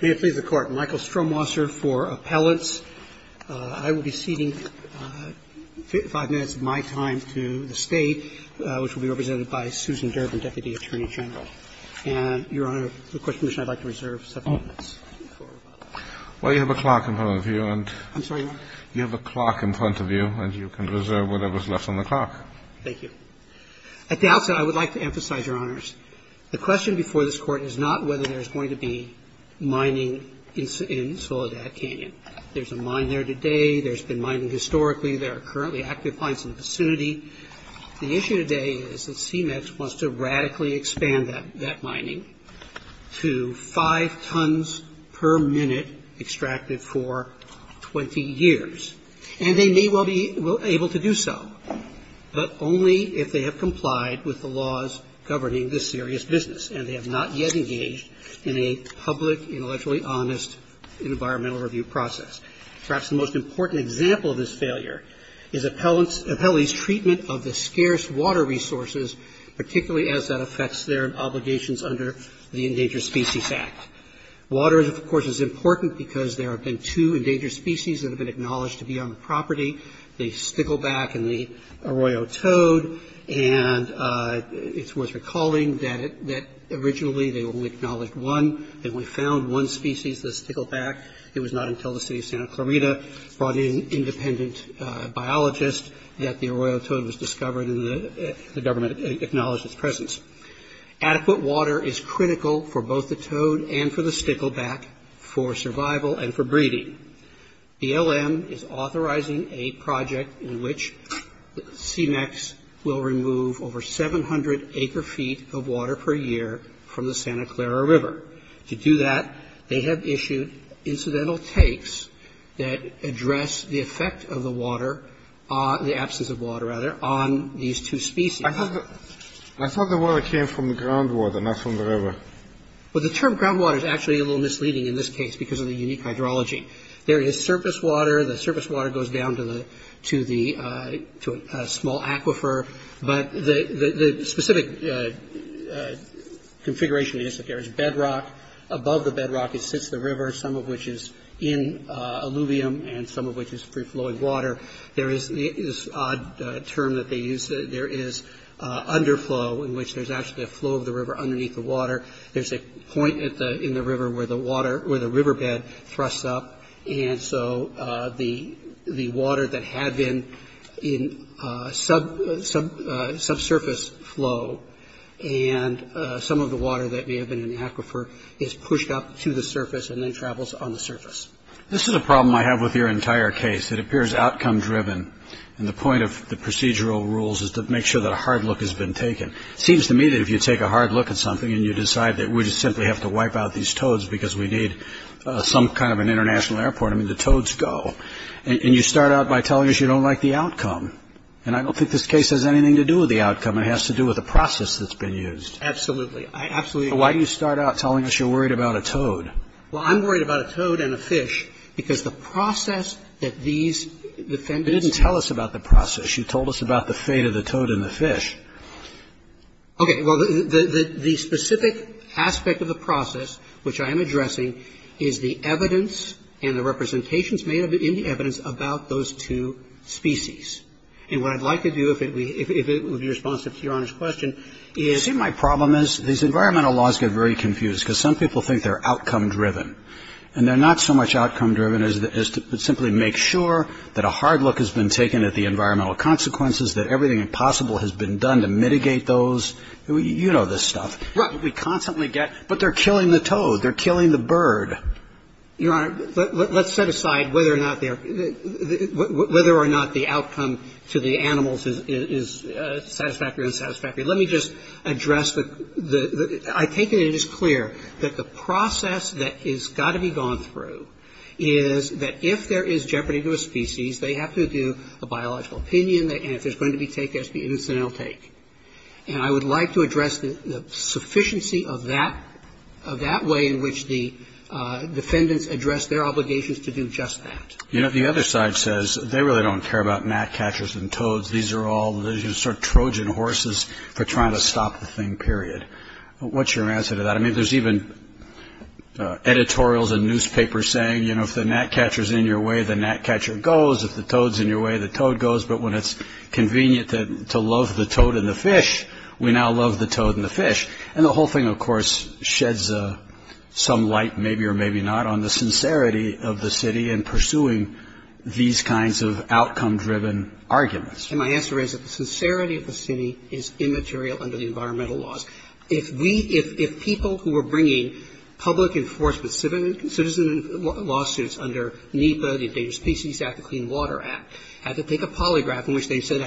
May it please the Court. Michael Stromwasser for Appellants. I will be ceding five minutes of my time to the State, which will be represented by Susan Durbin, Deputy Attorney General. And, Your Honor, for the Court's permission, I'd like to reserve several minutes. Well, you have a clock in front of you. I'm sorry, Your Honor? You have a clock in front of you, and you can reserve whatever's left on the clock. Thank you. At the outset, I would like to emphasize, Your Honors, the question before this Court is not whether there's going to be mining in Soledad Canyon. There's a mine there today. There's been mining historically. There are currently active mines in the vicinity. The issue today is that CMEX wants to radically expand that mining to five tons per minute extracted for 20 years. And they may well be able to do so, but only if they have complied with the laws governing this serious business and they have not yet engaged in a public, intellectually honest environmental review process. Perhaps the most important example of this failure is Appellee's treatment of the scarce water resources, particularly as that affects their obligations under the Endangered Species Act. Water, of course, is important because there have been two endangered species that have been acknowledged to be on the property, the stickleback and the arroyo toad. And it's worth recalling that originally they only acknowledged one. Then we found one species, the stickleback. It was not until the city of Santa Clarita brought in an independent biologist that the arroyo toad was discovered, and the government acknowledged its presence. Adequate water is critical for both the toad and for the stickleback for survival and for breeding. BLM is authorizing a project in which CMEX will remove over 700 acre feet of water per year from the Santa Clara River. To do that, they have issued incidental takes that address the effect of the water, the absence of water, rather, on these two species. I thought the water came from the groundwater, not from the river. Well, the term groundwater is actually a little misleading in this case because of the unique hydrology. There is surface water. The surface water goes down to a small aquifer. But the specific configuration is that there is bedrock. Above the bedrock sits the river, some of which is in alluvium and some of which is free-flowing water. There is this odd term that they use. There is underflow in which there's actually a flow of the river underneath the water. There's a point in the river where the water or the riverbed thrusts up. And so the water that had been in subsurface flow and some of the water that may have been in the aquifer is pushed up to the surface and then travels on the surface. This is a problem I have with your entire case. It appears outcome-driven. And the point of the procedural rules is to make sure that a hard look has been taken. It seems to me that if you take a hard look at something and you decide that we just simply have to wipe out these toads because we need some kind of an international airport, I mean, the toads go. And you start out by telling us you don't like the outcome. And I don't think this case has anything to do with the outcome. It has to do with the process that's been used. Absolutely. I absolutely agree. So why do you start out telling us you're worried about a toad? Well, I'm worried about a toad and a fish because the process that these defendants ---- You didn't tell us about the process. You told us about the fate of the toad and the fish. Okay. Well, the specific aspect of the process, which I am addressing, is the evidence and the representations made in the evidence about those two species. And what I'd like to do, if it would be responsive to Your Honor's question, is ---- And they're not so much outcome-driven as to simply make sure that a hard look has been taken at the environmental consequences, that everything possible has been done to mitigate those. You know this stuff. Right. We constantly get, but they're killing the toad. They're killing the bird. Your Honor, let's set aside whether or not the outcome to the animals is satisfactory or unsatisfactory. Let me just address the ---- I take it it is clear that the process that has got to be gone through is that if there is jeopardy to a species, they have to do a biological opinion, and if there's going to be take, there has to be incidental take. And I would like to address the sufficiency of that way in which the defendants address their obligations to do just that. You know, the other side says they really don't care about gnat catchers and toads. These are all sort of Trojan horses for trying to stop the thing, period. What's your answer to that? I mean, there's even editorials and newspapers saying, you know, if the gnat catcher's in your way, the gnat catcher goes. If the toad's in your way, the toad goes. But when it's convenient to love the toad and the fish, we now love the toad and the fish. And the whole thing, of course, sheds some light, maybe or maybe not, on the sincerity of the city in pursuing these kinds of outcome-driven arguments. And my answer is that the sincerity of the city is immaterial under the environmental laws. If we – if people who were bringing public enforcement citizen lawsuits under NEPA, the Endangered Species Act, the Clean Water Act, had to take a polygraph in which they said,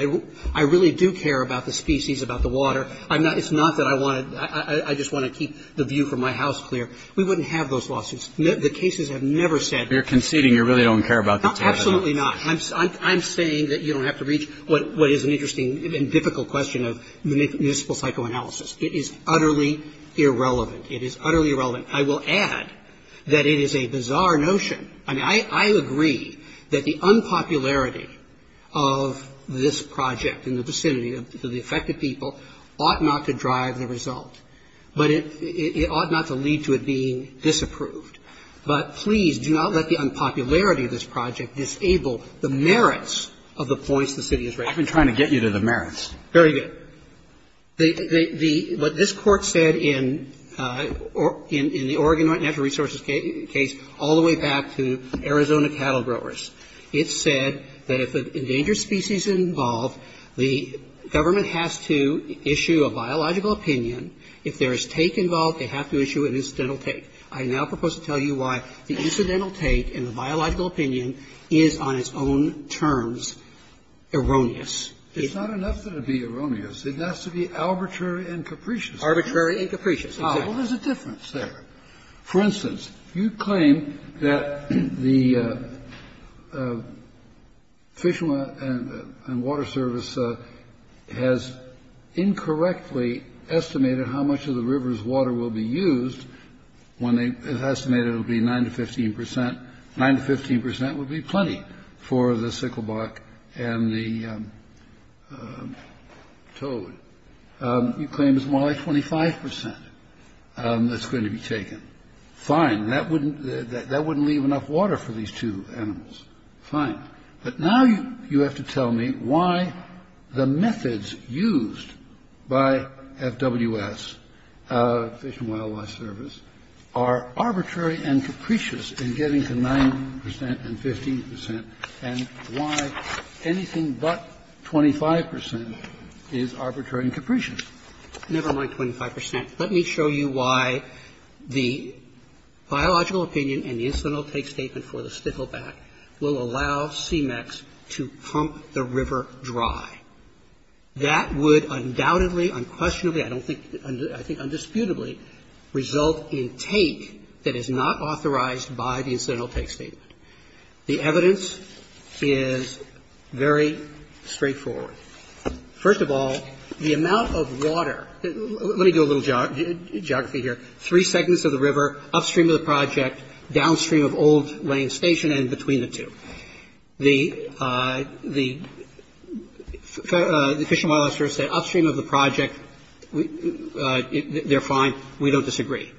I really do care about the species, about the water. It's not that I wanted – I just want to keep the view from my house clear. We wouldn't have those lawsuits. The cases have never said – You're conceding you really don't care about the toad. Absolutely not. I'm saying that you don't have to reach what is an interesting and difficult question of municipal psychoanalysis. It is utterly irrelevant. It is utterly irrelevant. I will add that it is a bizarre notion. I mean, I agree that the unpopularity of this project in the vicinity of the affected people ought not to drive the result. But it ought not to lead to it being disapproved. But please do not let the unpopularity of this project disable the merits of the points the city is raising. I've been trying to get you to the merits. Very good. The – what this Court said in the Oregon Natural Resources case all the way back to Arizona cattle growers, it said that if an endangered species is involved, the government has to issue a biological opinion. I now propose to tell you why the incidental take and the biological opinion is, on its own terms, erroneous. It's not enough that it be erroneous. It has to be arbitrary and capricious. Arbitrary and capricious, exactly. Ah, well, there's a difference there. For instance, you claim that the Fish and Water Service has incorrectly estimated how much of the river's water will be used when they estimated it would be 9 to 15 percent. 9 to 15 percent would be plenty for the sickleback and the toad. You claim it's more like 25 percent that's going to be taken. Fine. That wouldn't – that wouldn't leave enough water for these two animals. Fine. But now you have to tell me why the methods used by FWS, Fish and Wildlife Service, are arbitrary and capricious in getting to 9 percent and 15 percent, and why anything but 25 percent is arbitrary and capricious. Never mind 25 percent. Let me show you why the biological opinion and the incidental take statement for the pump the river dry. That would undoubtedly, unquestionably, I don't think – I think undisputably result in take that is not authorized by the incidental take statement. The evidence is very straightforward. First of all, the amount of water – let me do a little geography here. Three segments of the river upstream of the project, downstream of Old Lane Station and between the two. The Fish and Wildlife Service say upstream of the project, they're fine. We don't disagree.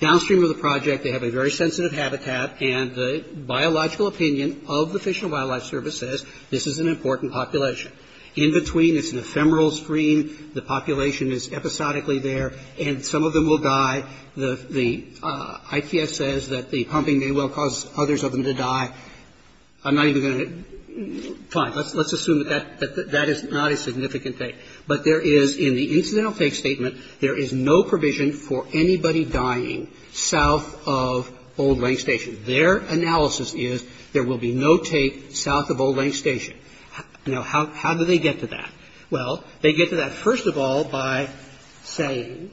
Downstream of the project, they have a very sensitive habitat, and the biological opinion of the Fish and Wildlife Service says this is an important population. In between, it's an ephemeral stream. Now, how do they get to that? Well, they get to that, first of all, by saying that any time that the pump may well cause others of them to die, I'm not even going to – fine. Let's assume that that is not a significant take. But there is, in the incidental take statement, there is no provision for anybody dying south of Old Lane Station. Their analysis is there will be no take south of Old Lane Station. Now, how do they get to that? Well, they get to that, first of all, by saying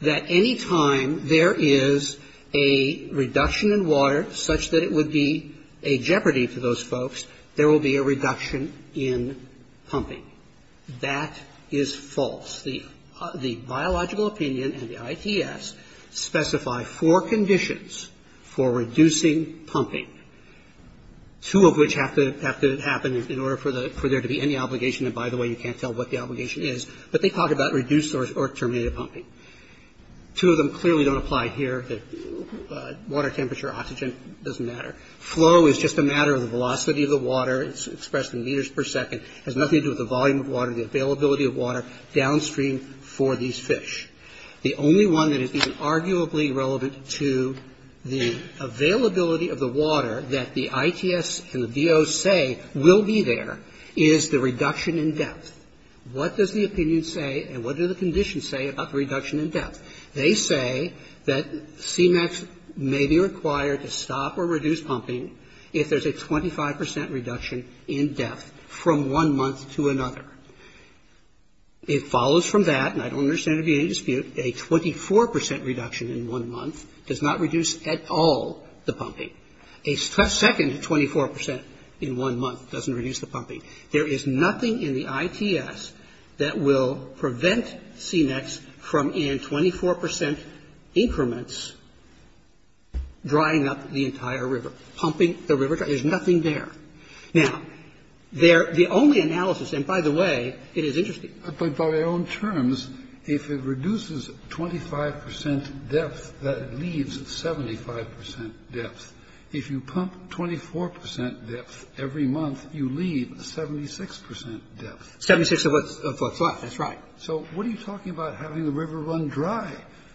that any time there is a reduction in water such that it would be a jeopardy to those folks, there will be a reduction in pumping. That is false. The biological opinion and the ITS specify four conditions for reducing pumping, two of which have to happen in order for there to be any obligation. And by the way, you can't tell what the obligation is. But they talk about reduced or terminated pumping. Two of them clearly don't apply here. Water temperature, oxygen, doesn't matter. Flow is just a matter of the velocity of the water. It's expressed in meters per second. It has nothing to do with the volume of water, the availability of water. The only one that is arguably relevant to the availability of the water that the ITS and the DO say will be there is the reduction in depth. What does the opinion say and what do the conditions say about the reduction in depth? They say that CMAQs may be required to stop or reduce pumping if there is a 25 percent reduction in depth from one month to another. It follows from that, and I don't understand there being any dispute, a 24 percent reduction in one month does not reduce at all the pumping. A second 24 percent in one month doesn't reduce the pumping. There is nothing in the ITS that will prevent CMAQs from, in 24 percent increments, drying up the entire river, pumping the river. There's nothing there. Now, the only analysis, and by the way, it is interesting. But by our own terms, if it reduces 25 percent depth, that leaves 75 percent depth. If you pump 24 percent depth every month, you leave 76 percent depth. Seventy-six of what's left. That's right. So what are you talking about having the river run dry?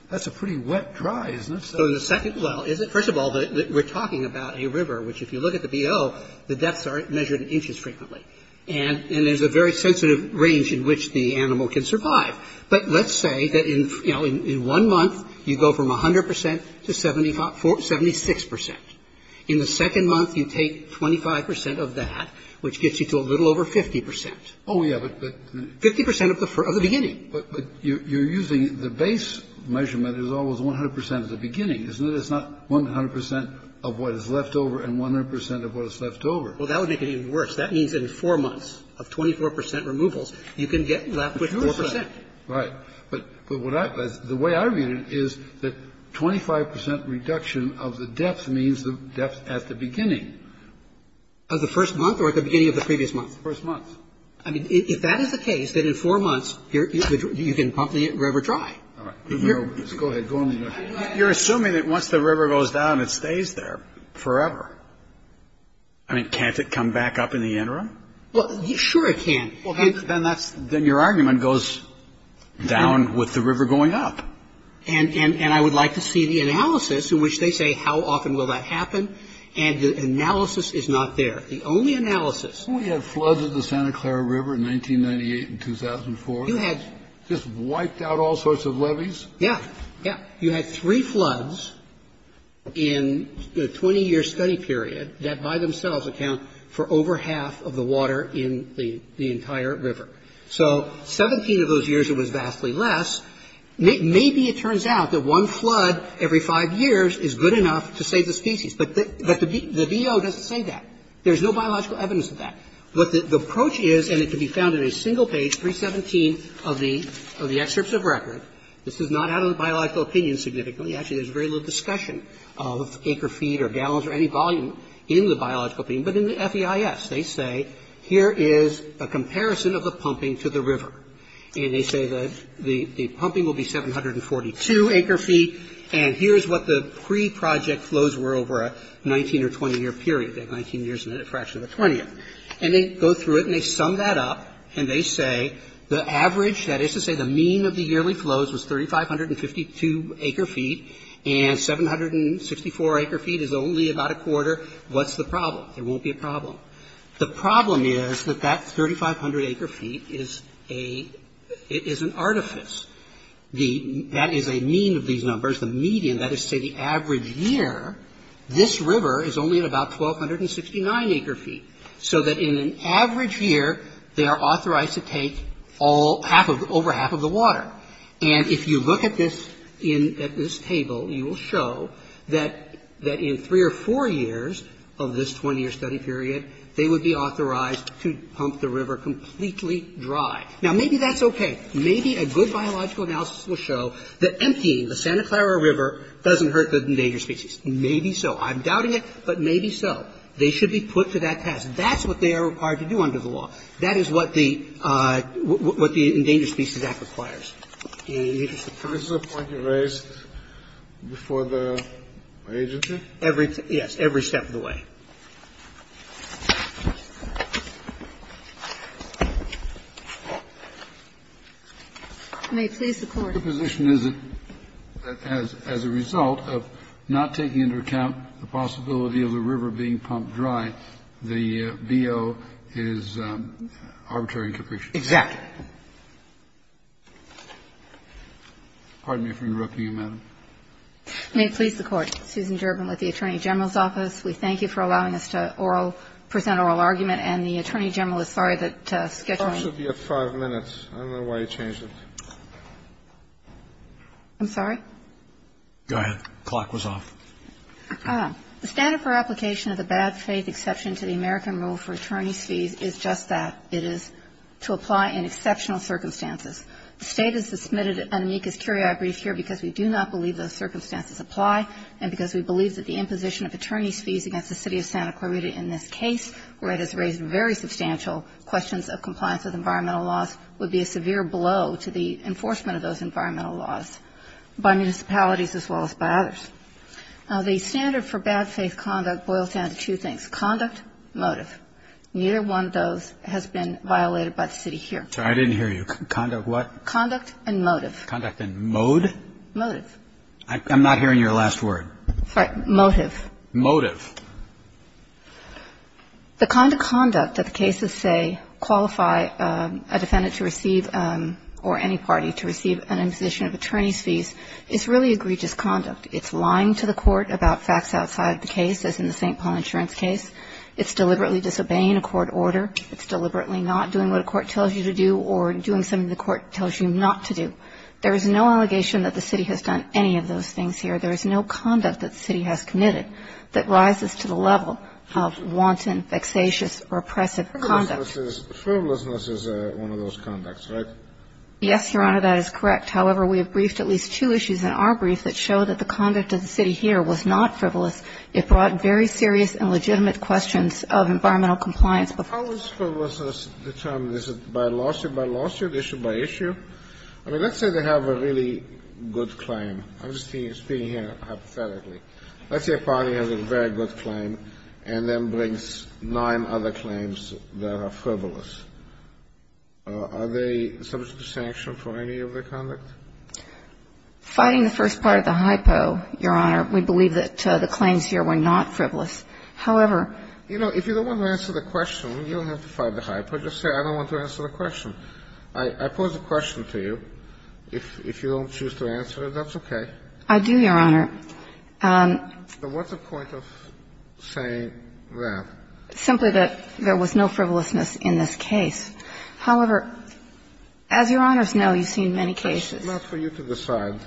That's a pretty wet dry, isn't it? So the second, well, first of all, we're talking about a river, which if you look at the BO, the depths are measured in inches frequently. And there's a very sensitive range in which the animal can survive. But let's say that, you know, in one month, you go from 100 percent to 76 percent. In the second month, you take 25 percent of that, which gets you to a little over 50 percent. Oh, yeah, but. Fifty percent of the beginning. But you're using the base measurement is always 100 percent of the beginning, isn't it? Well, it's not 100 percent of what is left over and 100 percent of what is left over. Well, that would make it even worse. That means in four months of 24 percent removals, you can get left with 4 percent. Right. But the way I read it is that 25 percent reduction of the depth means the depth at the beginning. Of the first month or at the beginning of the previous month? First month. I mean, if that is the case, then in four months, you can pump the river dry. All right. Go ahead. You're assuming that once the river goes down, it stays there forever. I mean, can't it come back up in the interim? Well, sure it can. Well, then that's then your argument goes down with the river going up. And I would like to see the analysis in which they say how often will that happen. And the analysis is not there. The only analysis. We had floods of the Santa Clara River in 1998 and 2004. You had. Just wiped out all sorts of levees. Yeah, yeah. You had three floods in the 20-year study period that by themselves account for over half of the water in the entire river. So 17 of those years, it was vastly less. Maybe it turns out that one flood every five years is good enough to save the species. But the DO doesn't say that. There's no biological evidence of that. But the approach is, and it can be found in a single page, 317 of the excerpts of record. This is not out of the biological opinion significantly. Actually, there's very little discussion of acre feet or gallons or any volume in the biological opinion. But in the FEIS, they say, here is a comparison of the pumping to the river. And they say that the pumping will be 742 acre feet. And here's what the pre-project flows were over a 19- or 20-year period. They have 19 years and then a fraction of a 20th. And they go through it and they sum that up. And they say the average, that is to say the mean of the yearly flows was 3,552 acre feet. And 764 acre feet is only about a quarter. What's the problem? There won't be a problem. The problem is that that 3,500 acre feet is an artifice. That is a mean of these numbers. The median, that is to say the average year, this river is only at about 1,269 acre feet. So that in an average year, they are authorized to take over half of the water. And if you look at this table, you will show that in three or four years of this 20-year study period, they would be authorized to pump the river completely dry. Now, maybe that's okay. Maybe a good biological analysis will show that emptying the Santa Clara River doesn't hurt the endangered species. Maybe so. I'm doubting it, but maybe so. They should be put to that task. That's what they are required to do under the law. That is what the Endangered Species Act requires. The interest of time. Kennedy. This is a point you raised before the agency? May it please the Court. The position is that as a result of not taking into account the possibility of the river being pumped dry, the BO is arbitrary and capricious. Exactly. Pardon me for interrupting you, Madam. May it please the Court. Susan Gerben with the Attorney General's Office. We thank you for allowing us to oral – present oral argument. And the Attorney General is sorry that scheduling – I don't know why you changed it. I'm sorry? Go ahead. The clock was off. The standard for application of the bad faith exception to the American rule for attorney's fees is just that. It is to apply in exceptional circumstances. The State has submitted an amicus curiae brief here because we do not believe those circumstances apply and because we believe that the imposition of attorney's fees against the City of Santa Clarita in this case, where it has raised very substantial questions of compliance with environmental laws, would be a severe blow to the enforcement of those environmental laws by municipalities as well as by others. Now, the standard for bad faith conduct boils down to two things, conduct, motive. Neither one of those has been violated by the City here. I didn't hear you. Conduct what? Conduct and motive. Conduct and mode? Motive. I'm not hearing your last word. Sorry. Motive. Motive. The kind of conduct that the cases say qualify a defendant to receive or any party to receive an imposition of attorney's fees is really egregious conduct. It's lying to the court about facts outside the case, as in the St. Paul insurance case. It's deliberately disobeying a court order. It's deliberately not doing what a court tells you to do or doing something the court tells you not to do. There is no allegation that the City has done any of those things here. There is no conduct that the City has committed that rises to the level of wanton, vexatious, repressive conduct. Frivolousness is one of those conducts, right? Yes, Your Honor, that is correct. However, we have briefed at least two issues in our brief that show that the conduct of the City here was not frivolous. It brought very serious and legitimate questions of environmental compliance. How is frivolousness determined? Is it by lawsuit by lawsuit, issue by issue? I mean, let's say they have a really good claim. I'm just speaking here hypothetically. Let's say a party has a very good claim and then brings nine other claims that are frivolous. Are they subject to sanction for any of their conduct? Fighting the first part of the hypo, Your Honor, we believe that the claims here were not frivolous. However, you know, if you don't want to answer the question, you don't have to fight the hypo. Just say I don't want to answer the question. I pose the question to you. If you don't choose to answer it, that's okay. I do, Your Honor. But what's the point of saying that? Simply that there was no frivolousness in this case. However, as Your Honors know, you've seen many cases. It's not for you to decide.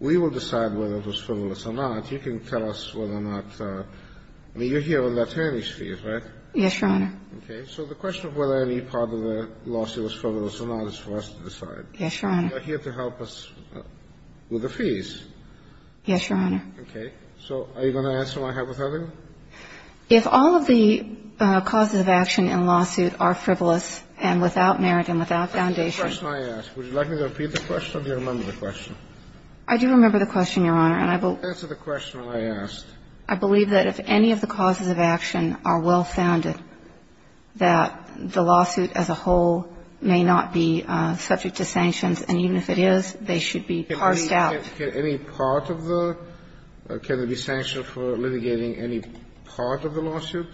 We will decide whether it was frivolous or not. You can tell us whether or not. I mean, you're here on attorney's fees, right? Yes, Your Honor. Okay. So the question of whether any part of the lawsuit was frivolous or not is for us to decide. Yes, Your Honor. You're here to help us with the fees. Yes, Your Honor. Okay. So are you going to answer my hypothetical? If all of the causes of action in a lawsuit are frivolous and without merit and without foundation. That's the question I asked. Would you like me to repeat the question or do you remember the question? I do remember the question, Your Honor. Answer the question when I asked. I believe that if any of the causes of action are well-founded, that the lawsuit as a whole may not be subject to sanctions. And even if it is, they should be parsed out. Can any part of the – can it be sanctioned for litigating any part of the lawsuit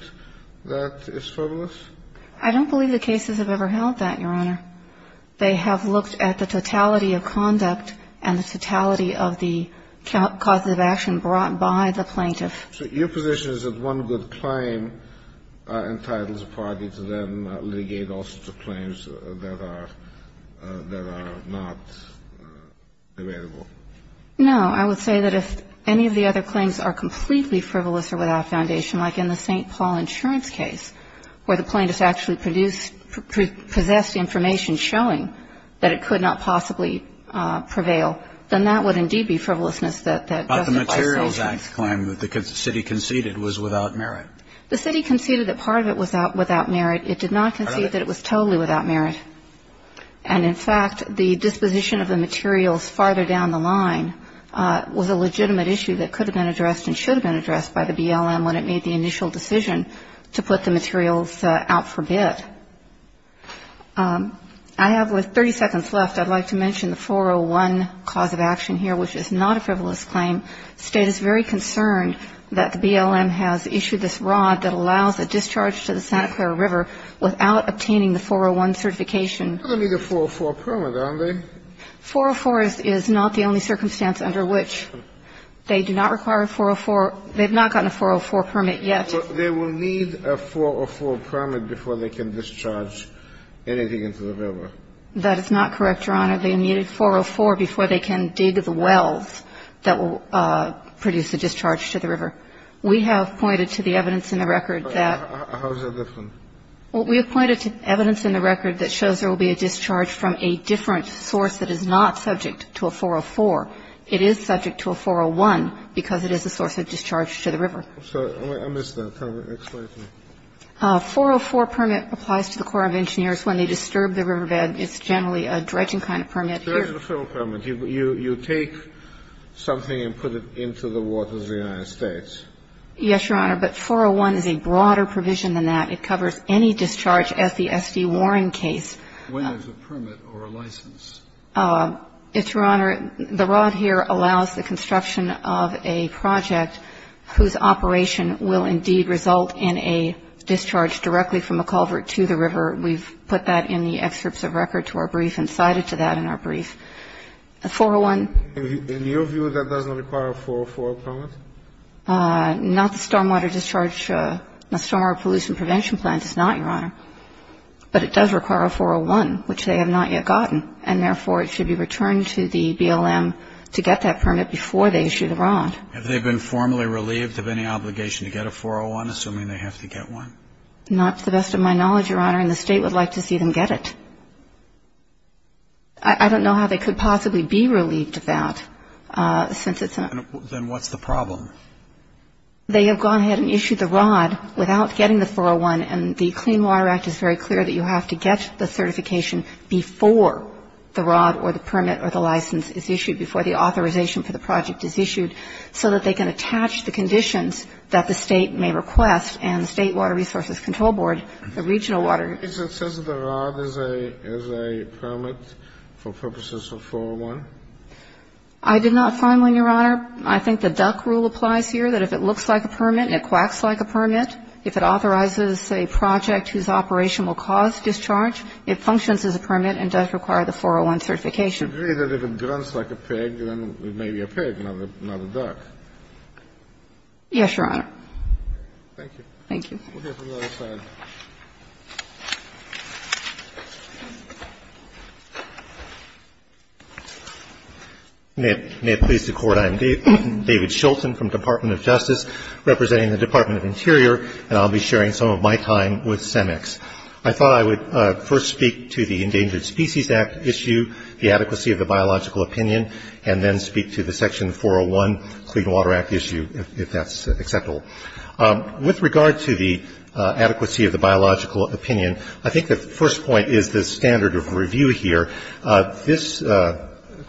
that is frivolous? I don't believe the cases have ever held that, Your Honor. They have looked at the totality of conduct and the totality of the causes of action brought by the plaintiff. So your position is that one good claim entitles a party to then litigate all sorts of claims that are – that are not available? No. I would say that if any of the other claims are completely frivolous or without foundation, like in the St. Paul insurance case where the plaintiff actually produced – possessed information showing that it could not possibly prevail, then that would indeed be frivolousness that justified sanctions. So the plaintiff's claim that the city conceded was without merit? The city conceded that part of it was without merit. It did not concede that it was totally without merit. And in fact, the disposition of the materials farther down the line was a legitimate issue that could have been addressed and should have been addressed by the BLM when it made the initial decision to put the materials out for bid. I have with 30 seconds left, I'd like to mention the 401 cause of action here, which is not a frivolous claim. State is very concerned that the BLM has issued this rod that allows a discharge to the Santa Clara River without obtaining the 401 certification. But they need a 404 permit, don't they? 404 is not the only circumstance under which they do not require a 404. They have not gotten a 404 permit yet. But they will need a 404 permit before they can discharge anything into the river. That is not correct, Your Honor. They need a 404 before they can dig the wells that will produce a discharge to the river. We have pointed to the evidence in the record that ---- How is that different? Well, we have pointed to evidence in the record that shows there will be a discharge from a different source that is not subject to a 404. It is subject to a 401 because it is a source of discharge to the river. I'm sorry. I missed that. Explain it to me. A 404 permit applies to the Corps of Engineers when they disturb the riverbed. It's generally a dredging kind of permit. It's a federal permit. You take something and put it into the waters of the United States. Yes, Your Honor. But 401 is a broader provision than that. It covers any discharge as the S.D. Warren case. When is a permit or a license? It's, Your Honor, the rod here allows the construction of a project whose operation will indeed result in a discharge directly from a culvert to the river. We've put that in the excerpts of record to our brief and cited to that in our brief. A 401 ---- In your view, that does not require a 404 permit? Not the stormwater discharge, stormwater pollution prevention plan does not, Your Honor. But it does require a 401, which they have not yet gotten. And therefore, it should be returned to the BLM to get that permit before they issue the rod. Have they been formally relieved of any obligation to get a 401, assuming they have to get one? Not to the best of my knowledge, Your Honor, and the State would like to see them get it. I don't know how they could possibly be relieved of that since it's a ---- Then what's the problem? They have gone ahead and issued the rod without getting the 401, and the Clean Water Act is very clear that you have to get the certification before the rod or the permit or the license is issued, before the authorization for the project is issued, so that they can attach the conditions that the State may request, and the State Water Resources Control Board, the regional water ---- It says the rod is a permit for purposes of 401? I did not find one, Your Honor. I think the duck rule applies here, that if it looks like a permit and it quacks like a permit, if it authorizes a project whose operation will cause discharge, it functions as a permit and does require the 401 certification. But you agree that if it grunts like a pig, then it may be a pig, not a duck? Yes, Your Honor. Thank you. Thank you. We'll hear from the other side. May it please the Court. I am David Shultz from the Department of Justice representing the Department of Interior, and I'll be sharing some of my time with CEMEX. I thought I would first speak to the Endangered Species Act issue, the adequacy of the biological opinion, and then speak to the Section 401 Clean Water Act issue, if that's acceptable. With regard to the adequacy of the biological opinion, I think the first point is the standard of review here. This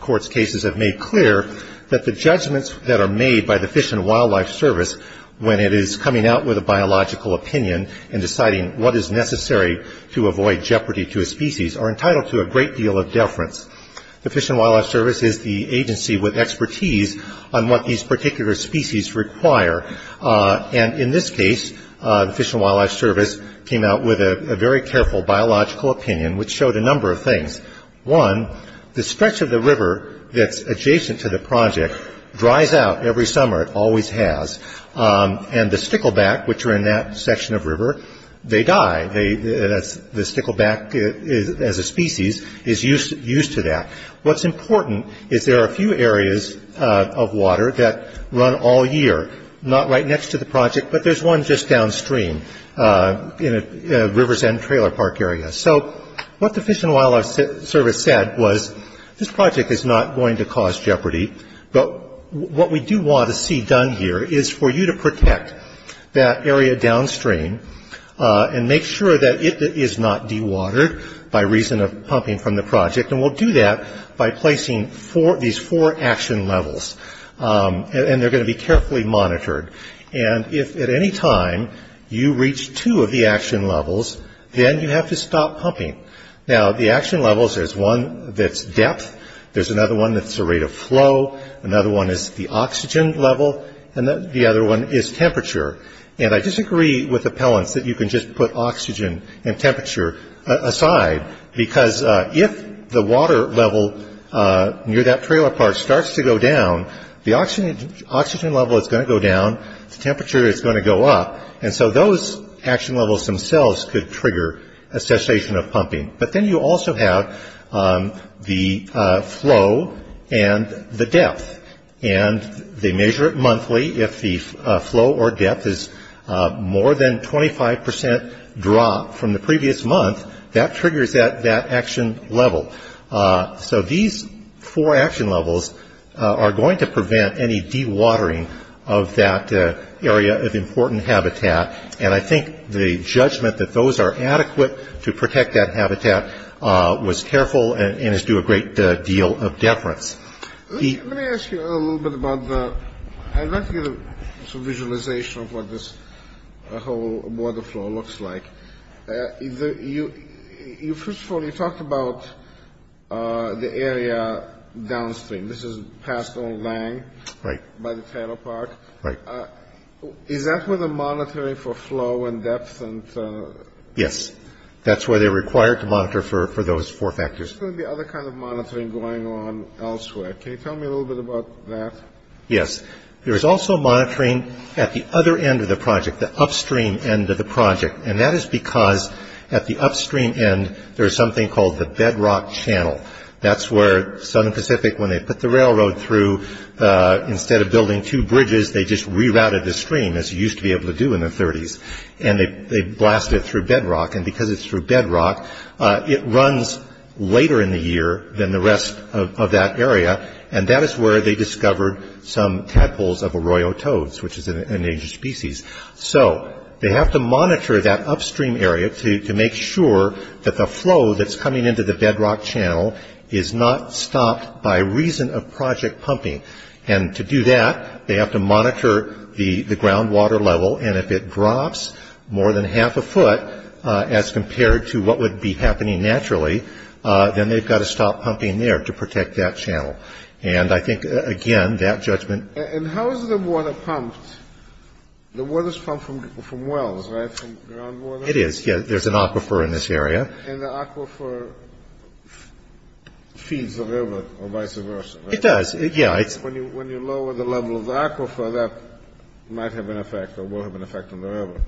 Court's cases have made clear that the judgments that are made by the Fish and Wildlife Service when it is coming out with a biological opinion and deciding what is necessary to avoid jeopardy to a species are entitled to a great deal of deference. The Fish and Wildlife Service is the agency with expertise on what these particular species require. And in this case, the Fish and Wildlife Service came out with a very careful biological opinion, which showed a number of things. One, the stretch of the river that's adjacent to the project dries out every summer. It always has. And the stickleback, which are in that section of river, they die. The stickleback as a species is used to that. What's important is there are a few areas of water that run all year, not right next to the project, but there's one just downstream in a river's end trailer park area. So what the Fish and Wildlife Service said was this project is not going to cause jeopardy, but what we do want to see done here is for you to protect that area downstream and make sure that it is not dewatered by reason of pumping from the project. And we'll do that by placing these four action levels, and they're going to be carefully monitored. And if at any time you reach two of the action levels, then you have to stop pumping. Now, the action levels, there's one that's depth. There's another one that's the rate of flow. Another one is the oxygen level, and the other one is temperature. And I disagree with appellants that you can just put oxygen and temperature aside, because if the water level near that trailer park starts to go down, the oxygen level is going to go down, the temperature is going to go up, and so those action levels themselves could trigger a cessation of pumping. But then you also have the flow and the depth. And they measure it monthly. If the flow or depth is more than 25 percent drop from the previous month, that triggers that action level. So these four action levels are going to prevent any dewatering of that area of important habitat. And I think the judgment that those are adequate to protect that habitat was careful and is due a great deal of deference. Let me ask you a little bit about the visualization of what this whole water flow looks like. First of all, you talked about the area downstream. This is past Old Lang by the trailer park. Right. Is that where they're monitoring for flow and depth? Yes. That's where they're required to monitor for those four factors. There's going to be other kinds of monitoring going on elsewhere. Can you tell me a little bit about that? Yes. There is also monitoring at the other end of the project, the upstream end of the project. And that is because at the upstream end, there is something called the bedrock channel. That's where Southern Pacific, when they put the railroad through, instead of building two bridges, they just rerouted the stream, as you used to be able to do in the 30s. And they blasted it through bedrock. And because it's through bedrock, it runs later in the year than the rest of that area. And that is where they discovered some tadpoles of arroyo toads, which is an endangered species. So they have to monitor that upstream area to make sure that the flow that's coming into the bedrock channel is not stopped by reason of project pumping. And to do that, they have to monitor the groundwater level. And if it drops more than half a foot, as compared to what would be happening naturally, then they've got to stop pumping there to protect that channel. And I think, again, that judgment. And how is the water pumped? The water is pumped from wells, right, from groundwater? It is, yes. There's an aquifer in this area. And the aquifer feeds the river, or vice versa, right? It does, yeah. When you lower the level of the aquifer, that might have an effect or will have an effect on the river.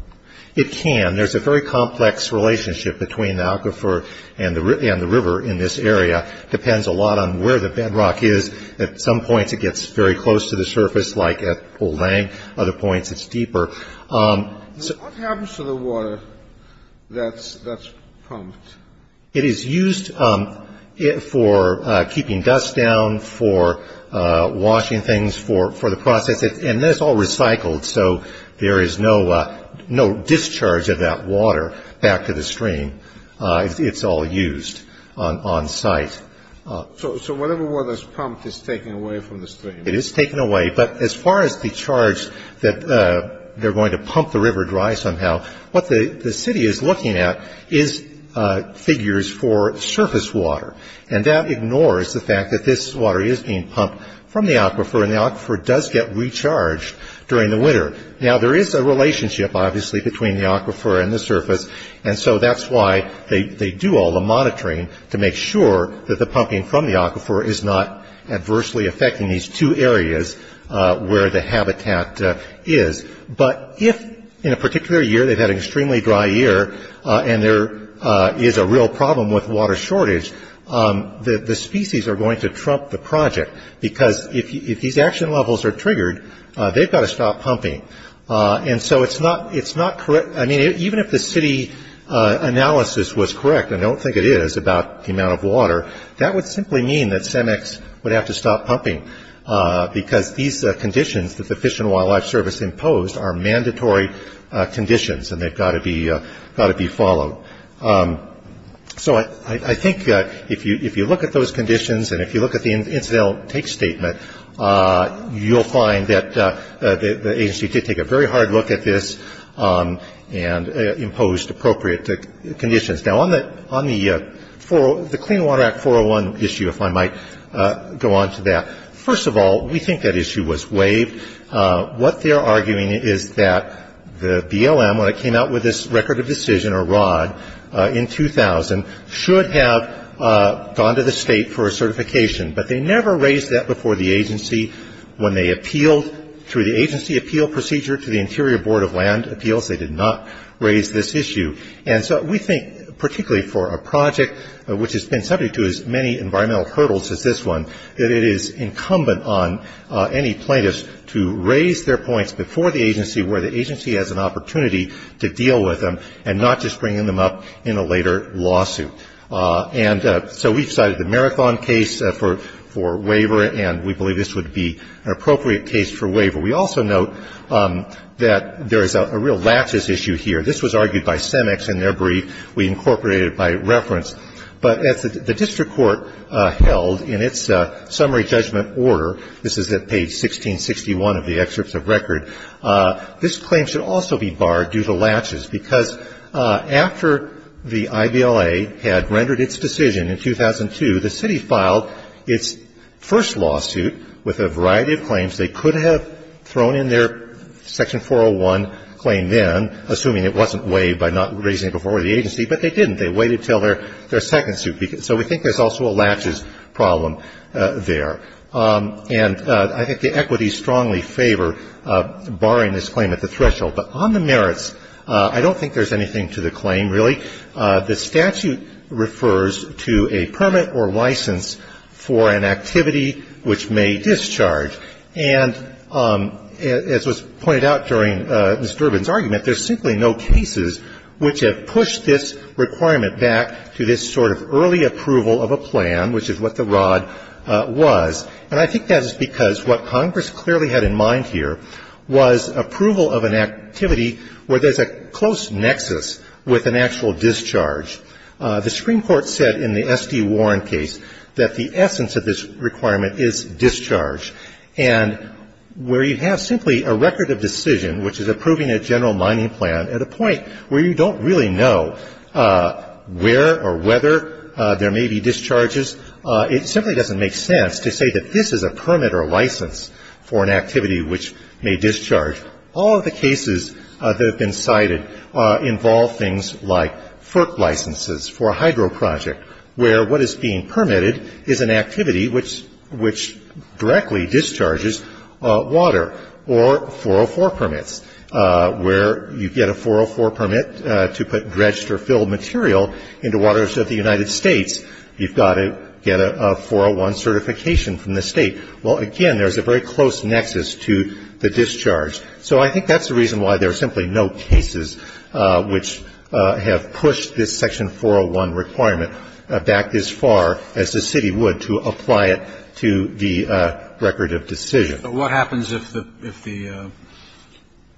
It can. There's a very complex relationship between the aquifer and the river in this area. It depends a lot on where the bedrock is. At some points, it gets very close to the surface, like at Polang. Other points, it's deeper. What happens to the water that's pumped? It is used for keeping dust down, for washing things, for the process. And then it's all recycled, so there is no discharge of that water back to the stream. It's all used on site. So whatever water is pumped is taken away from the stream? It is taken away. But as far as the charge that they're going to pump the river dry somehow, what the city is looking at is figures for surface water. And that ignores the fact that this water is being pumped from the aquifer, and the aquifer does get recharged during the winter. Now, there is a relationship, obviously, between the aquifer and the surface, and so that's why they do all the monitoring to make sure that the pumping from the aquifer is not adversely affecting these two areas where the habitat is. But if, in a particular year, they've had an extremely dry year, and there is a real problem with water shortage, the species are going to trump the project, because if these action levels are triggered, they've got to stop pumping. And so it's not correct. I mean, even if the city analysis was correct, and I don't think it is, about the amount of water, that would simply mean that CEMEX would have to stop pumping, because these conditions that the Fish and Wildlife Service imposed are mandatory conditions, and they've got to be followed. So I think if you look at those conditions, and if you look at the incidental take statement, you'll find that the agency did take a very hard look at this and imposed appropriate conditions. Now, on the Clean Water Act 401 issue, if I might go on to that. First of all, we think that issue was waived. What they're arguing is that the BLM, when it came out with this Record of Decision, or ROD, in 2000, should have gone to the state for a certification, but they never raised that before the agency. When they appealed through the agency appeal procedure to the Interior Board of Land Appeals, they did not raise this issue. And so we think, particularly for a project which has been subject to as many environmental hurdles as this one, that it is incumbent on any plaintiffs to raise their points before the agency where the agency has an opportunity to deal with them and not just bring them up in a later lawsuit. And so we've cited the Marathon case for waiver, and we believe this would be an appropriate case for waiver. We also note that there is a real laches issue here. This was argued by Semex in their brief. We incorporated it by reference. But as the district court held in its summary judgment order, this is at page 1661 of the excerpts of record, this claim should also be barred due to laches, because after the IBLA had rendered its decision in 2002, the city filed its first lawsuit with a variety of claims. They could have thrown in their section 401 claim then, assuming it wasn't waived by not raising it before the agency, but they didn't. They waited until their second suit. So we think there's also a laches problem there. And I think the equities strongly favor barring this claim at the threshold. But on the merits, I don't think there's anything to the claim, really. The statute refers to a permit or license for an activity which may discharge. And as was pointed out during Ms. Durbin's argument, there's simply no cases which have pushed this requirement back to this sort of early approval of a plan, which is what the ROD was. And I think that is because what Congress clearly had in mind here was approval of an activity where there's a close nexus with an actual discharge. The Supreme Court said in the S.D. Warren case that the essence of this requirement is discharge. And where you have simply a record of decision, which is approving a general mining plan at a point where you don't really know where or whether there may be discharges, it simply doesn't make sense to say that this is a permit or a license for an activity which may discharge. All of the cases that have been cited involve things like FERC licenses for a hydro project, where what is being permitted is an activity which directly discharges water. Or 404 permits, where you get a 404 permit to put dredged or filled material into waters of the United States. You've got to get a 401 certification from the State. Well, again, there's a very close nexus to the discharge. So I think that's the reason why there are simply no cases which have pushed this requirement back as far as the city would to apply it to the record of decision. But what happens if the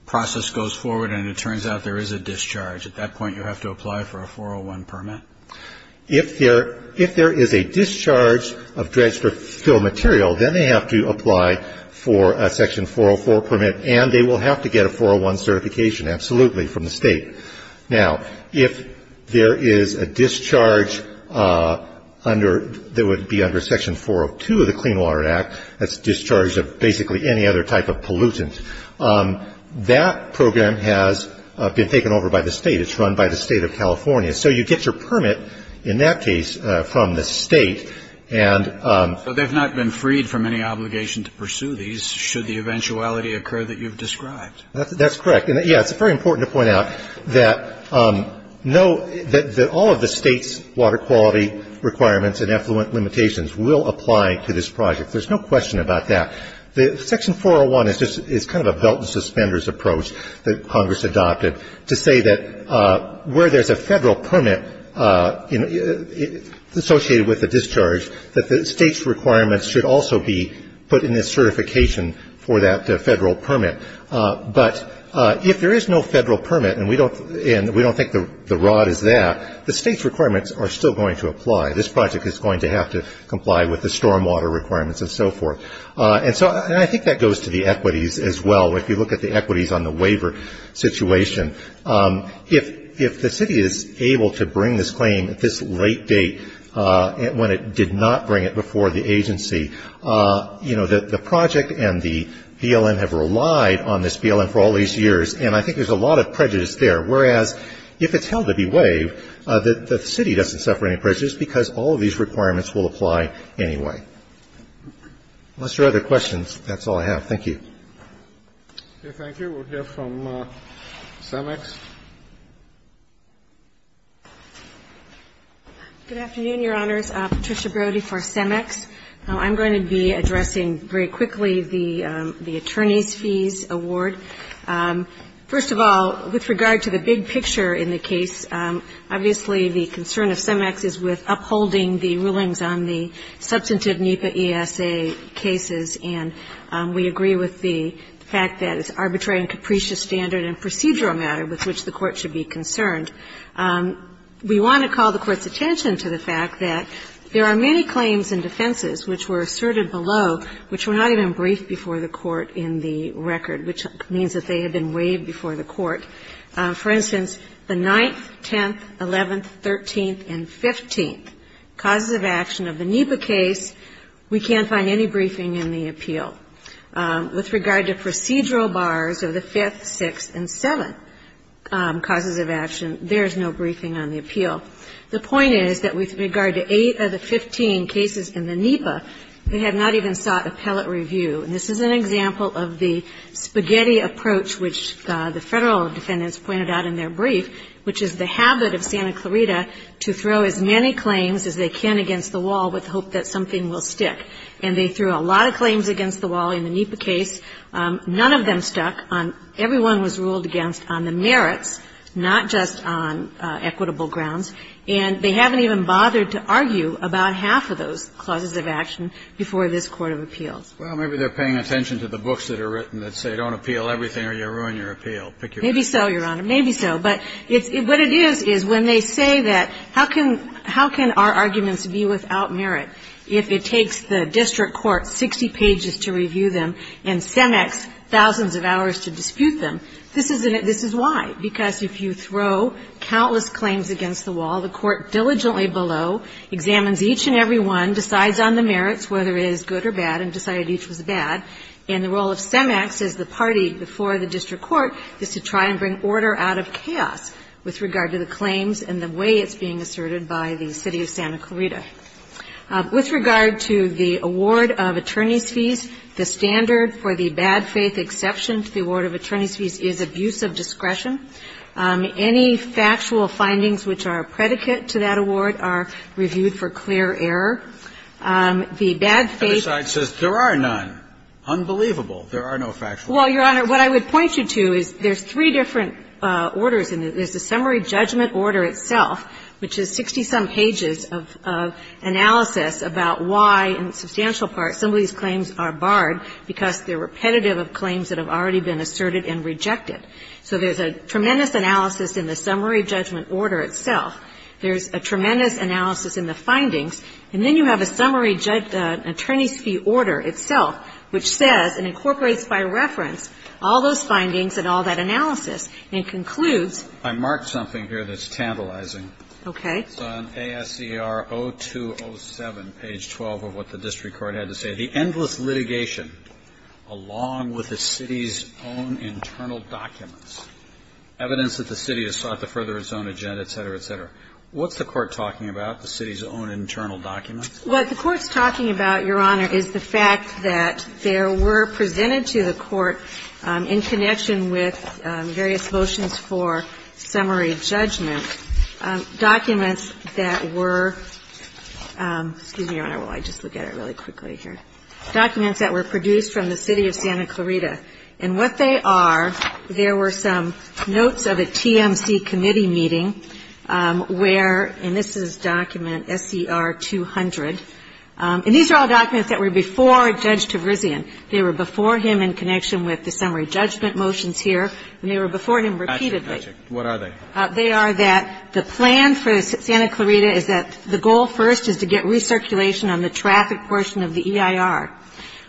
process goes forward and it turns out there is a discharge? At that point, you have to apply for a 401 permit? If there is a discharge of dredged or filled material, then they have to apply for a Section 404 permit, and they will have to get a 401 certification, absolutely, from the State. Now, if there is a discharge that would be under Section 402 of the Clean Water Act, that's discharge of basically any other type of pollutant, that program has been taken over by the State. It's run by the State of California. So you get your permit in that case from the State. So they've not been freed from any obligation to pursue these, should the eventuality occur that you've described? That's correct. Yes, it's very important to point out that all of the State's water quality requirements and effluent limitations will apply to this project. There's no question about that. Section 401 is kind of a belt and suspenders approach that Congress adopted to say that where there's a Federal permit associated with a discharge, that the State's requirements should also be put in the certification for that Federal permit. But if there is no Federal permit, and we don't think the rod is there, the State's requirements are still going to apply. This project is going to have to comply with the stormwater requirements and so forth. And so I think that goes to the equities as well. If you look at the equities on the waiver situation, if the City is able to bring this claim at this late date when it did not bring it before the agency, you know, the project and the BLM have relied on this BLM for all these years. And I think there's a lot of prejudice there. Whereas, if it's held to be waived, the City doesn't suffer any prejudice because all of these requirements will apply anyway. Unless there are other questions, that's all I have. Thank you. Okay. Thank you. We'll hear from CEMEX. Good afternoon, Your Honors. Patricia Brody for CEMEX. I'm going to be addressing very quickly the attorney's fees award. First of all, with regard to the big picture in the case, obviously the concern of CEMEX is with upholding the rulings on the substantive NEPA ESA cases, and we agree with the fact that it's arbitrary and capricious standard and procedural matter with which the Court should be concerned. We want to call the Court's attention to the fact that there are many claims and defenses which were asserted below which were not even briefed before the Court in the record, which means that they had been waived before the Court. For instance, the 9th, 10th, 11th, 13th, and 15th causes of action of the NEPA case, with regard to procedural bars of the 5th, 6th, and 7th causes of action, there's no briefing on the appeal. The point is that with regard to eight of the 15 cases in the NEPA, they have not even sought appellate review. And this is an example of the spaghetti approach which the Federal defendants pointed out in their brief, which is the habit of Santa Clarita to throw as many claims as they can against the wall with the hope that something will stick. And they threw a lot of claims against the wall in the NEPA case. None of them stuck. Everyone was ruled against on the merits, not just on equitable grounds. And they haven't even bothered to argue about half of those clauses of action before this court of appeals. Well, maybe they're paying attention to the books that are written that say don't appeal everything or you'll ruin your appeal. Maybe so, Your Honor. Maybe so. But what it is is when they say that how can our arguments be without merit if it takes the district court 60 pages to review them and CEMEX thousands of hours to dispute them? This is why. Because if you throw countless claims against the wall, the court diligently below examines each and every one, decides on the merits, whether it is good or bad, and decided each was bad. And the role of CEMEX as the party before the district court is to try and bring order out of chaos with regard to the claims and the way it's being asserted by the city of Santa Clarita. With regard to the award of attorney's fees, the standard for the bad faith exception to the award of attorney's fees is abuse of discretion. Any factual findings which are a predicate to that award are reviewed for clear error. The bad faith ---- The other side says there are none. Unbelievable. There are no factual findings. Well, Your Honor, what I would point you to is there's three different orders and there's the summary judgment order itself, which is 60-some pages of analysis about why, in substantial part, some of these claims are barred because they're repetitive of claims that have already been asserted and rejected. So there's a tremendous analysis in the summary judgment order itself. There's a tremendous analysis in the findings. And then you have a summary attorney's fee order itself, which says and incorporates by reference all those findings and all that analysis. And it concludes ---- I marked something here that's tantalizing. Okay. It's on ASER 0207, page 12 of what the district court had to say. The endless litigation, along with the city's own internal documents, evidence that the city has sought to further its own agenda, et cetera, et cetera. What's the court talking about, the city's own internal documents? What the court's talking about, Your Honor, is the fact that there were presented to the court in connection with various motions for summary judgment documents that were ---- Excuse me, Your Honor, while I just look at it really quickly here. Documents that were produced from the city of Santa Clarita. And what they are, there were some notes of a TMC committee meeting where ---- And these are all documents that were before Judge Tavrizian. They were before him in connection with the summary judgment motions here, and they were before him repeatedly. Gotcha. Gotcha. What are they? They are that the plan for Santa Clarita is that the goal first is to get recirculation on the traffic portion of the EIR.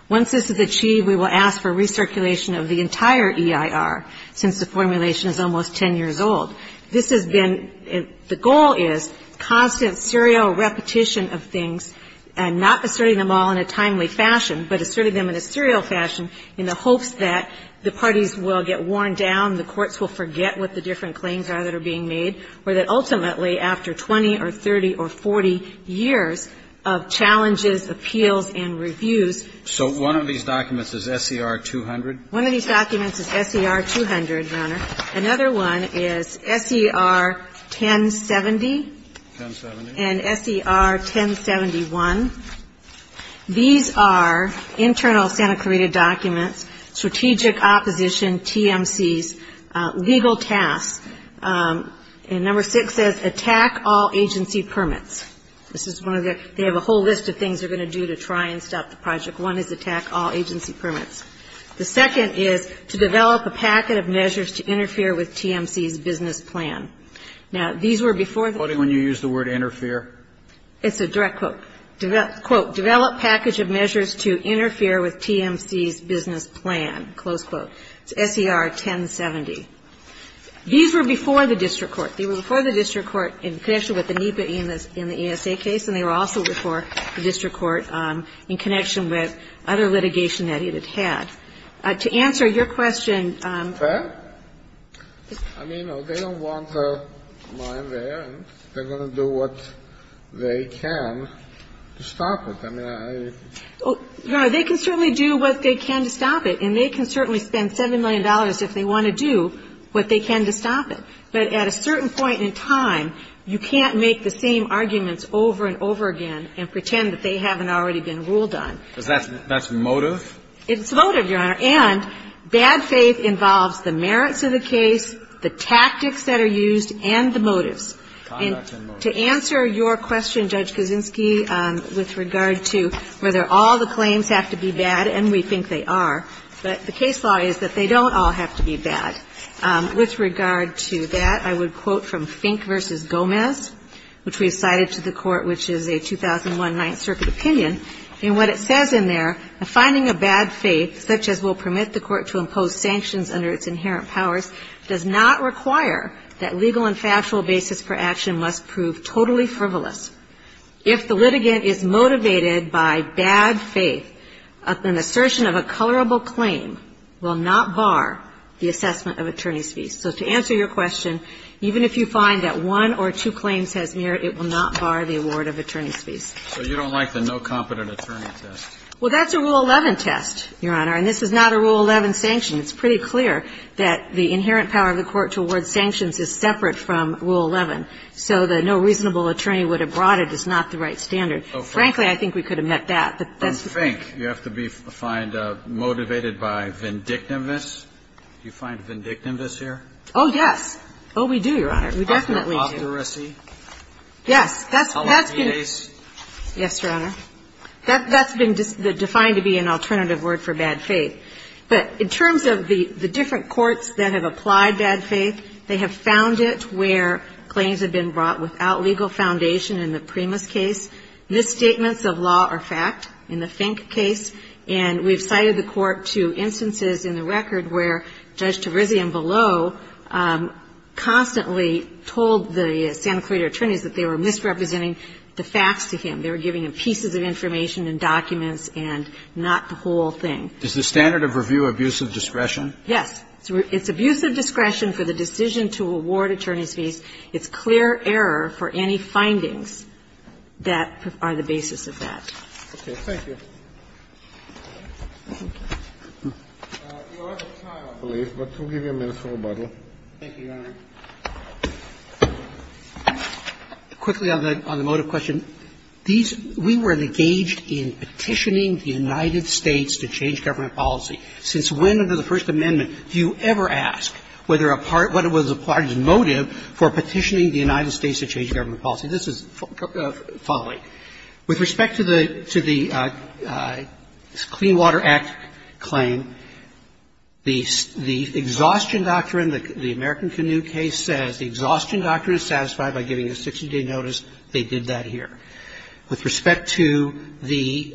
Once this is achieved, we will ask for recirculation of the entire EIR, since the formulation is almost 10 years old. This has been ---- the goal is constant serial repetition of things, and not asserting them all in a timely fashion, but asserting them in a serial fashion in the hopes that the parties will get worn down, the courts will forget what the different claims are that are being made, or that ultimately after 20 or 30 or 40 years of challenges, appeals, and reviews ---- So one of these documents is SER 200? One of these documents is SER 200, Your Honor. Another one is SER 1070? 1070. And SER 1071. These are internal Santa Clarita documents, strategic opposition TMCs, legal tasks. And number six says attack all agency permits. This is one of the ---- they have a whole list of things they're going to do to try and stop the project. One is attack all agency permits. The second is to develop a packet of measures to interfere with TMC's business plan. Now, these were before the ---- Are you quoting when you use the word interfere? It's a direct quote. Quote, Develop package of measures to interfere with TMC's business plan. Close quote. It's SER 1070. These were before the district court. They were before the district court in connection with the NEPA in the ESA case, and they were also before the district court in connection with other litigation that it had. To answer your question ---- Fair? I mean, they don't want mine there. They're going to do what they can to stop it. I mean, I ---- Your Honor, they can certainly do what they can to stop it, and they can certainly spend $7 million if they want to do what they can to stop it. But at a certain point in time, you can't make the same arguments over and over again and pretend that they haven't already been ruled on. That's motive? It's motive, Your Honor. And bad faith involves the merits of the case, the tactics that are used, and the motives. And to answer your question, Judge Kuczynski, with regard to whether all the claims have to be bad, and we think they are, but the case law is that they don't all have to be bad. With regard to that, I would quote from Fink v. Gomez, which we have cited to the Court, which is a 2001 Ninth Circuit opinion. And what it says in there, A finding of bad faith, such as will permit the Court to impose sanctions under its inherent powers, does not require that legal and factual basis for action must prove totally frivolous. If the litigant is motivated by bad faith, an assertion of a colorable claim will not bar the assessment of attorney's fees. So to answer your question, even if you find that one or two claims has merit, it will not bar the award of attorney's fees. So you don't like the no competent attorney test? Well, that's a Rule 11 test, Your Honor. And this is not a Rule 11 sanction. It's pretty clear that the inherent power of the Court to award sanctions is separate from Rule 11. So the no reasonable attorney would have brought it is not the right standard. Frankly, I think we could have met that. I think you have to be motivated by vindictiveness. Do you find vindictiveness here? Oh, yes. Oh, we do, Your Honor. We definitely do. Authority? Yes. Yes, Your Honor. That's been defined to be an alternative word for bad faith. But in terms of the different courts that have applied bad faith, they have found it where claims have been brought without legal foundation in the Primus case. Misstatements of law are fact in the Fink case. And we have cited the Court to instances in the record where Judge Tavrizian below constantly told the Santa Clarita attorneys that they were misrepresenting the facts to him. They were giving him pieces of information and documents and not the whole thing. Is the standard of review abuse of discretion? Yes. It's abuse of discretion for the decision to award attorney's fees. It's clear error for any findings that are the basis of that. Okay. Thank you. Your other trial, please. But we'll give you a minute for rebuttal. Thank you, Your Honor. Quickly on the motive question. These we were engaged in petitioning the United States to change government policy. Since when under the First Amendment do you ever ask whether a part, whether the motive for petitioning the United States to change government policy? This is following. With respect to the Clean Water Act claim, the exhaustion doctrine, the American Canoe case says the exhaustion doctrine is satisfied by giving a 60-day notice. They did that here. With respect to the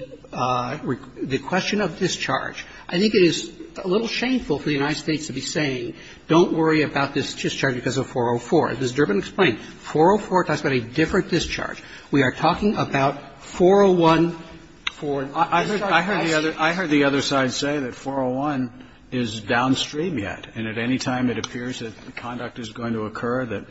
question of discharge, I think it is a little shameful for the United States to discharge because of 404. As Ms. Durbin explained, 404 talks about a different discharge. We are talking about 401 for discharge. I heard the other side say that 401 is downstream yet. And at any time it appears that conduct is going to occur that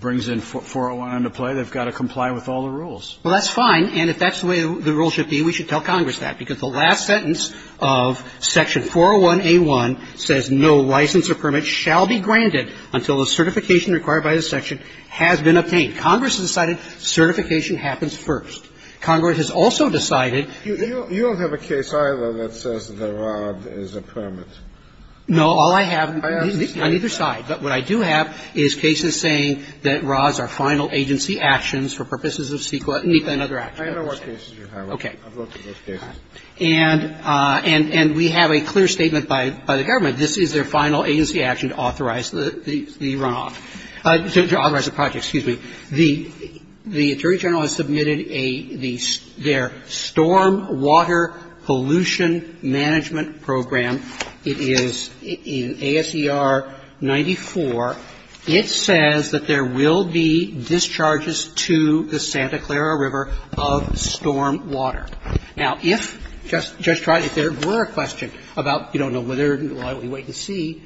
brings in 401 into play, they've got to comply with all the rules. Well, that's fine. And if that's the way the rules should be, we should tell Congress that, because the last sentence of Section 401A1 says no license or permit shall be granted until the certification required by the section has been obtained. Congress has decided certification happens first. Congress has also decided you don't have a case either that says the rod is a permit. No. All I have on either side. But what I do have is cases saying that rods are final agency actions for purposes of CEQA and other actions. Okay. And we have a clear statement by the government. This is their final agency action to authorize the runoff, to authorize the project. Excuse me. The Attorney General has submitted a, their Storm Water Pollution Management Program. It is in ASER 94. It says that there will be discharges to the Santa Clara River of storm water. Now, if, Judge Trotty, if there were a question about, you don't know whether or not we wait to see,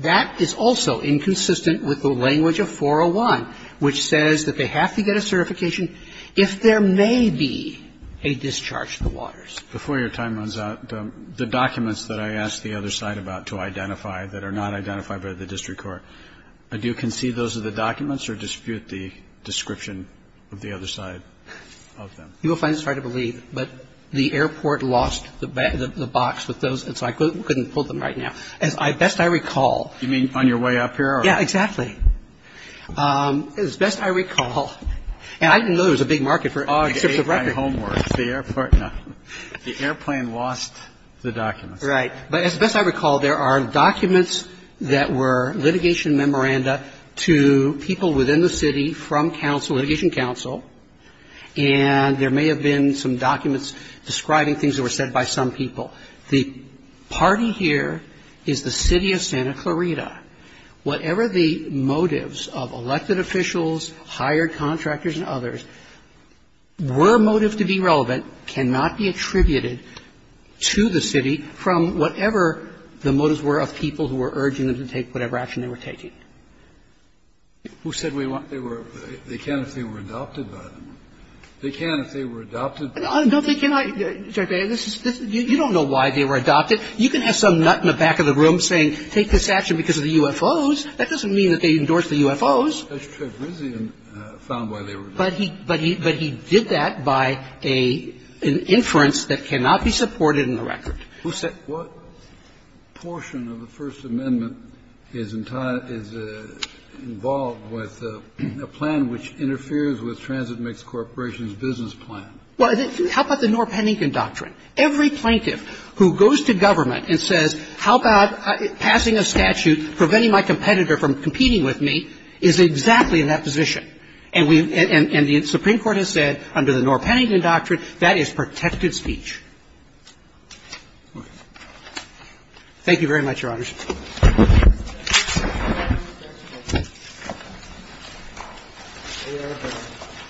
that is also inconsistent with the language of 401, which says that they have to get a certification if there may be a discharge to the waters. Before your time runs out, the documents that I asked the other side about to identify that are not identified by the district court, do you concede those are the documents or dispute the description of the other side of them? You will find it's hard to believe, but the airport lost the box with those, and so I couldn't pull them right now. As best I recall. You mean on your way up here? Yeah, exactly. As best I recall, and I didn't know there was a big market for it. Oh, except for record. The airport, no. The airplane lost the documents. Right. But as best I recall, there are documents that were litigation memoranda to people within the city from counsel, litigation counsel, and there may have been some documents describing things that were said by some people. The party here is the City of Santa Clarita. Whatever the motives of elected officials, hired contractors and others, were motives to be relevant cannot be attributed to the city from whatever the motives were of people who were urging them to take whatever action they were taking. Who said they can't if they were adopted by them? They can't if they were adopted by them? No, they cannot. You don't know why they were adopted. You can have some nut in the back of the room saying take this action because of the UFOs. That doesn't mean that they endorsed the UFOs. Judge Tregrizion found why they were adopted. But he did that by an inference that cannot be supported in the record. Who said that? What portion of the First Amendment is involved with a plan which interferes with Transit Mix Corporation's business plan? Well, how about the Norr Pennington Doctrine? Every plaintiff who goes to government and says how about passing a statute preventing my competitor from competing with me is exactly in that position. And we've – and the Supreme Court has said under the Norr Pennington Doctrine that is protected speech. Thank you very much, Your Honors. We are adjourned.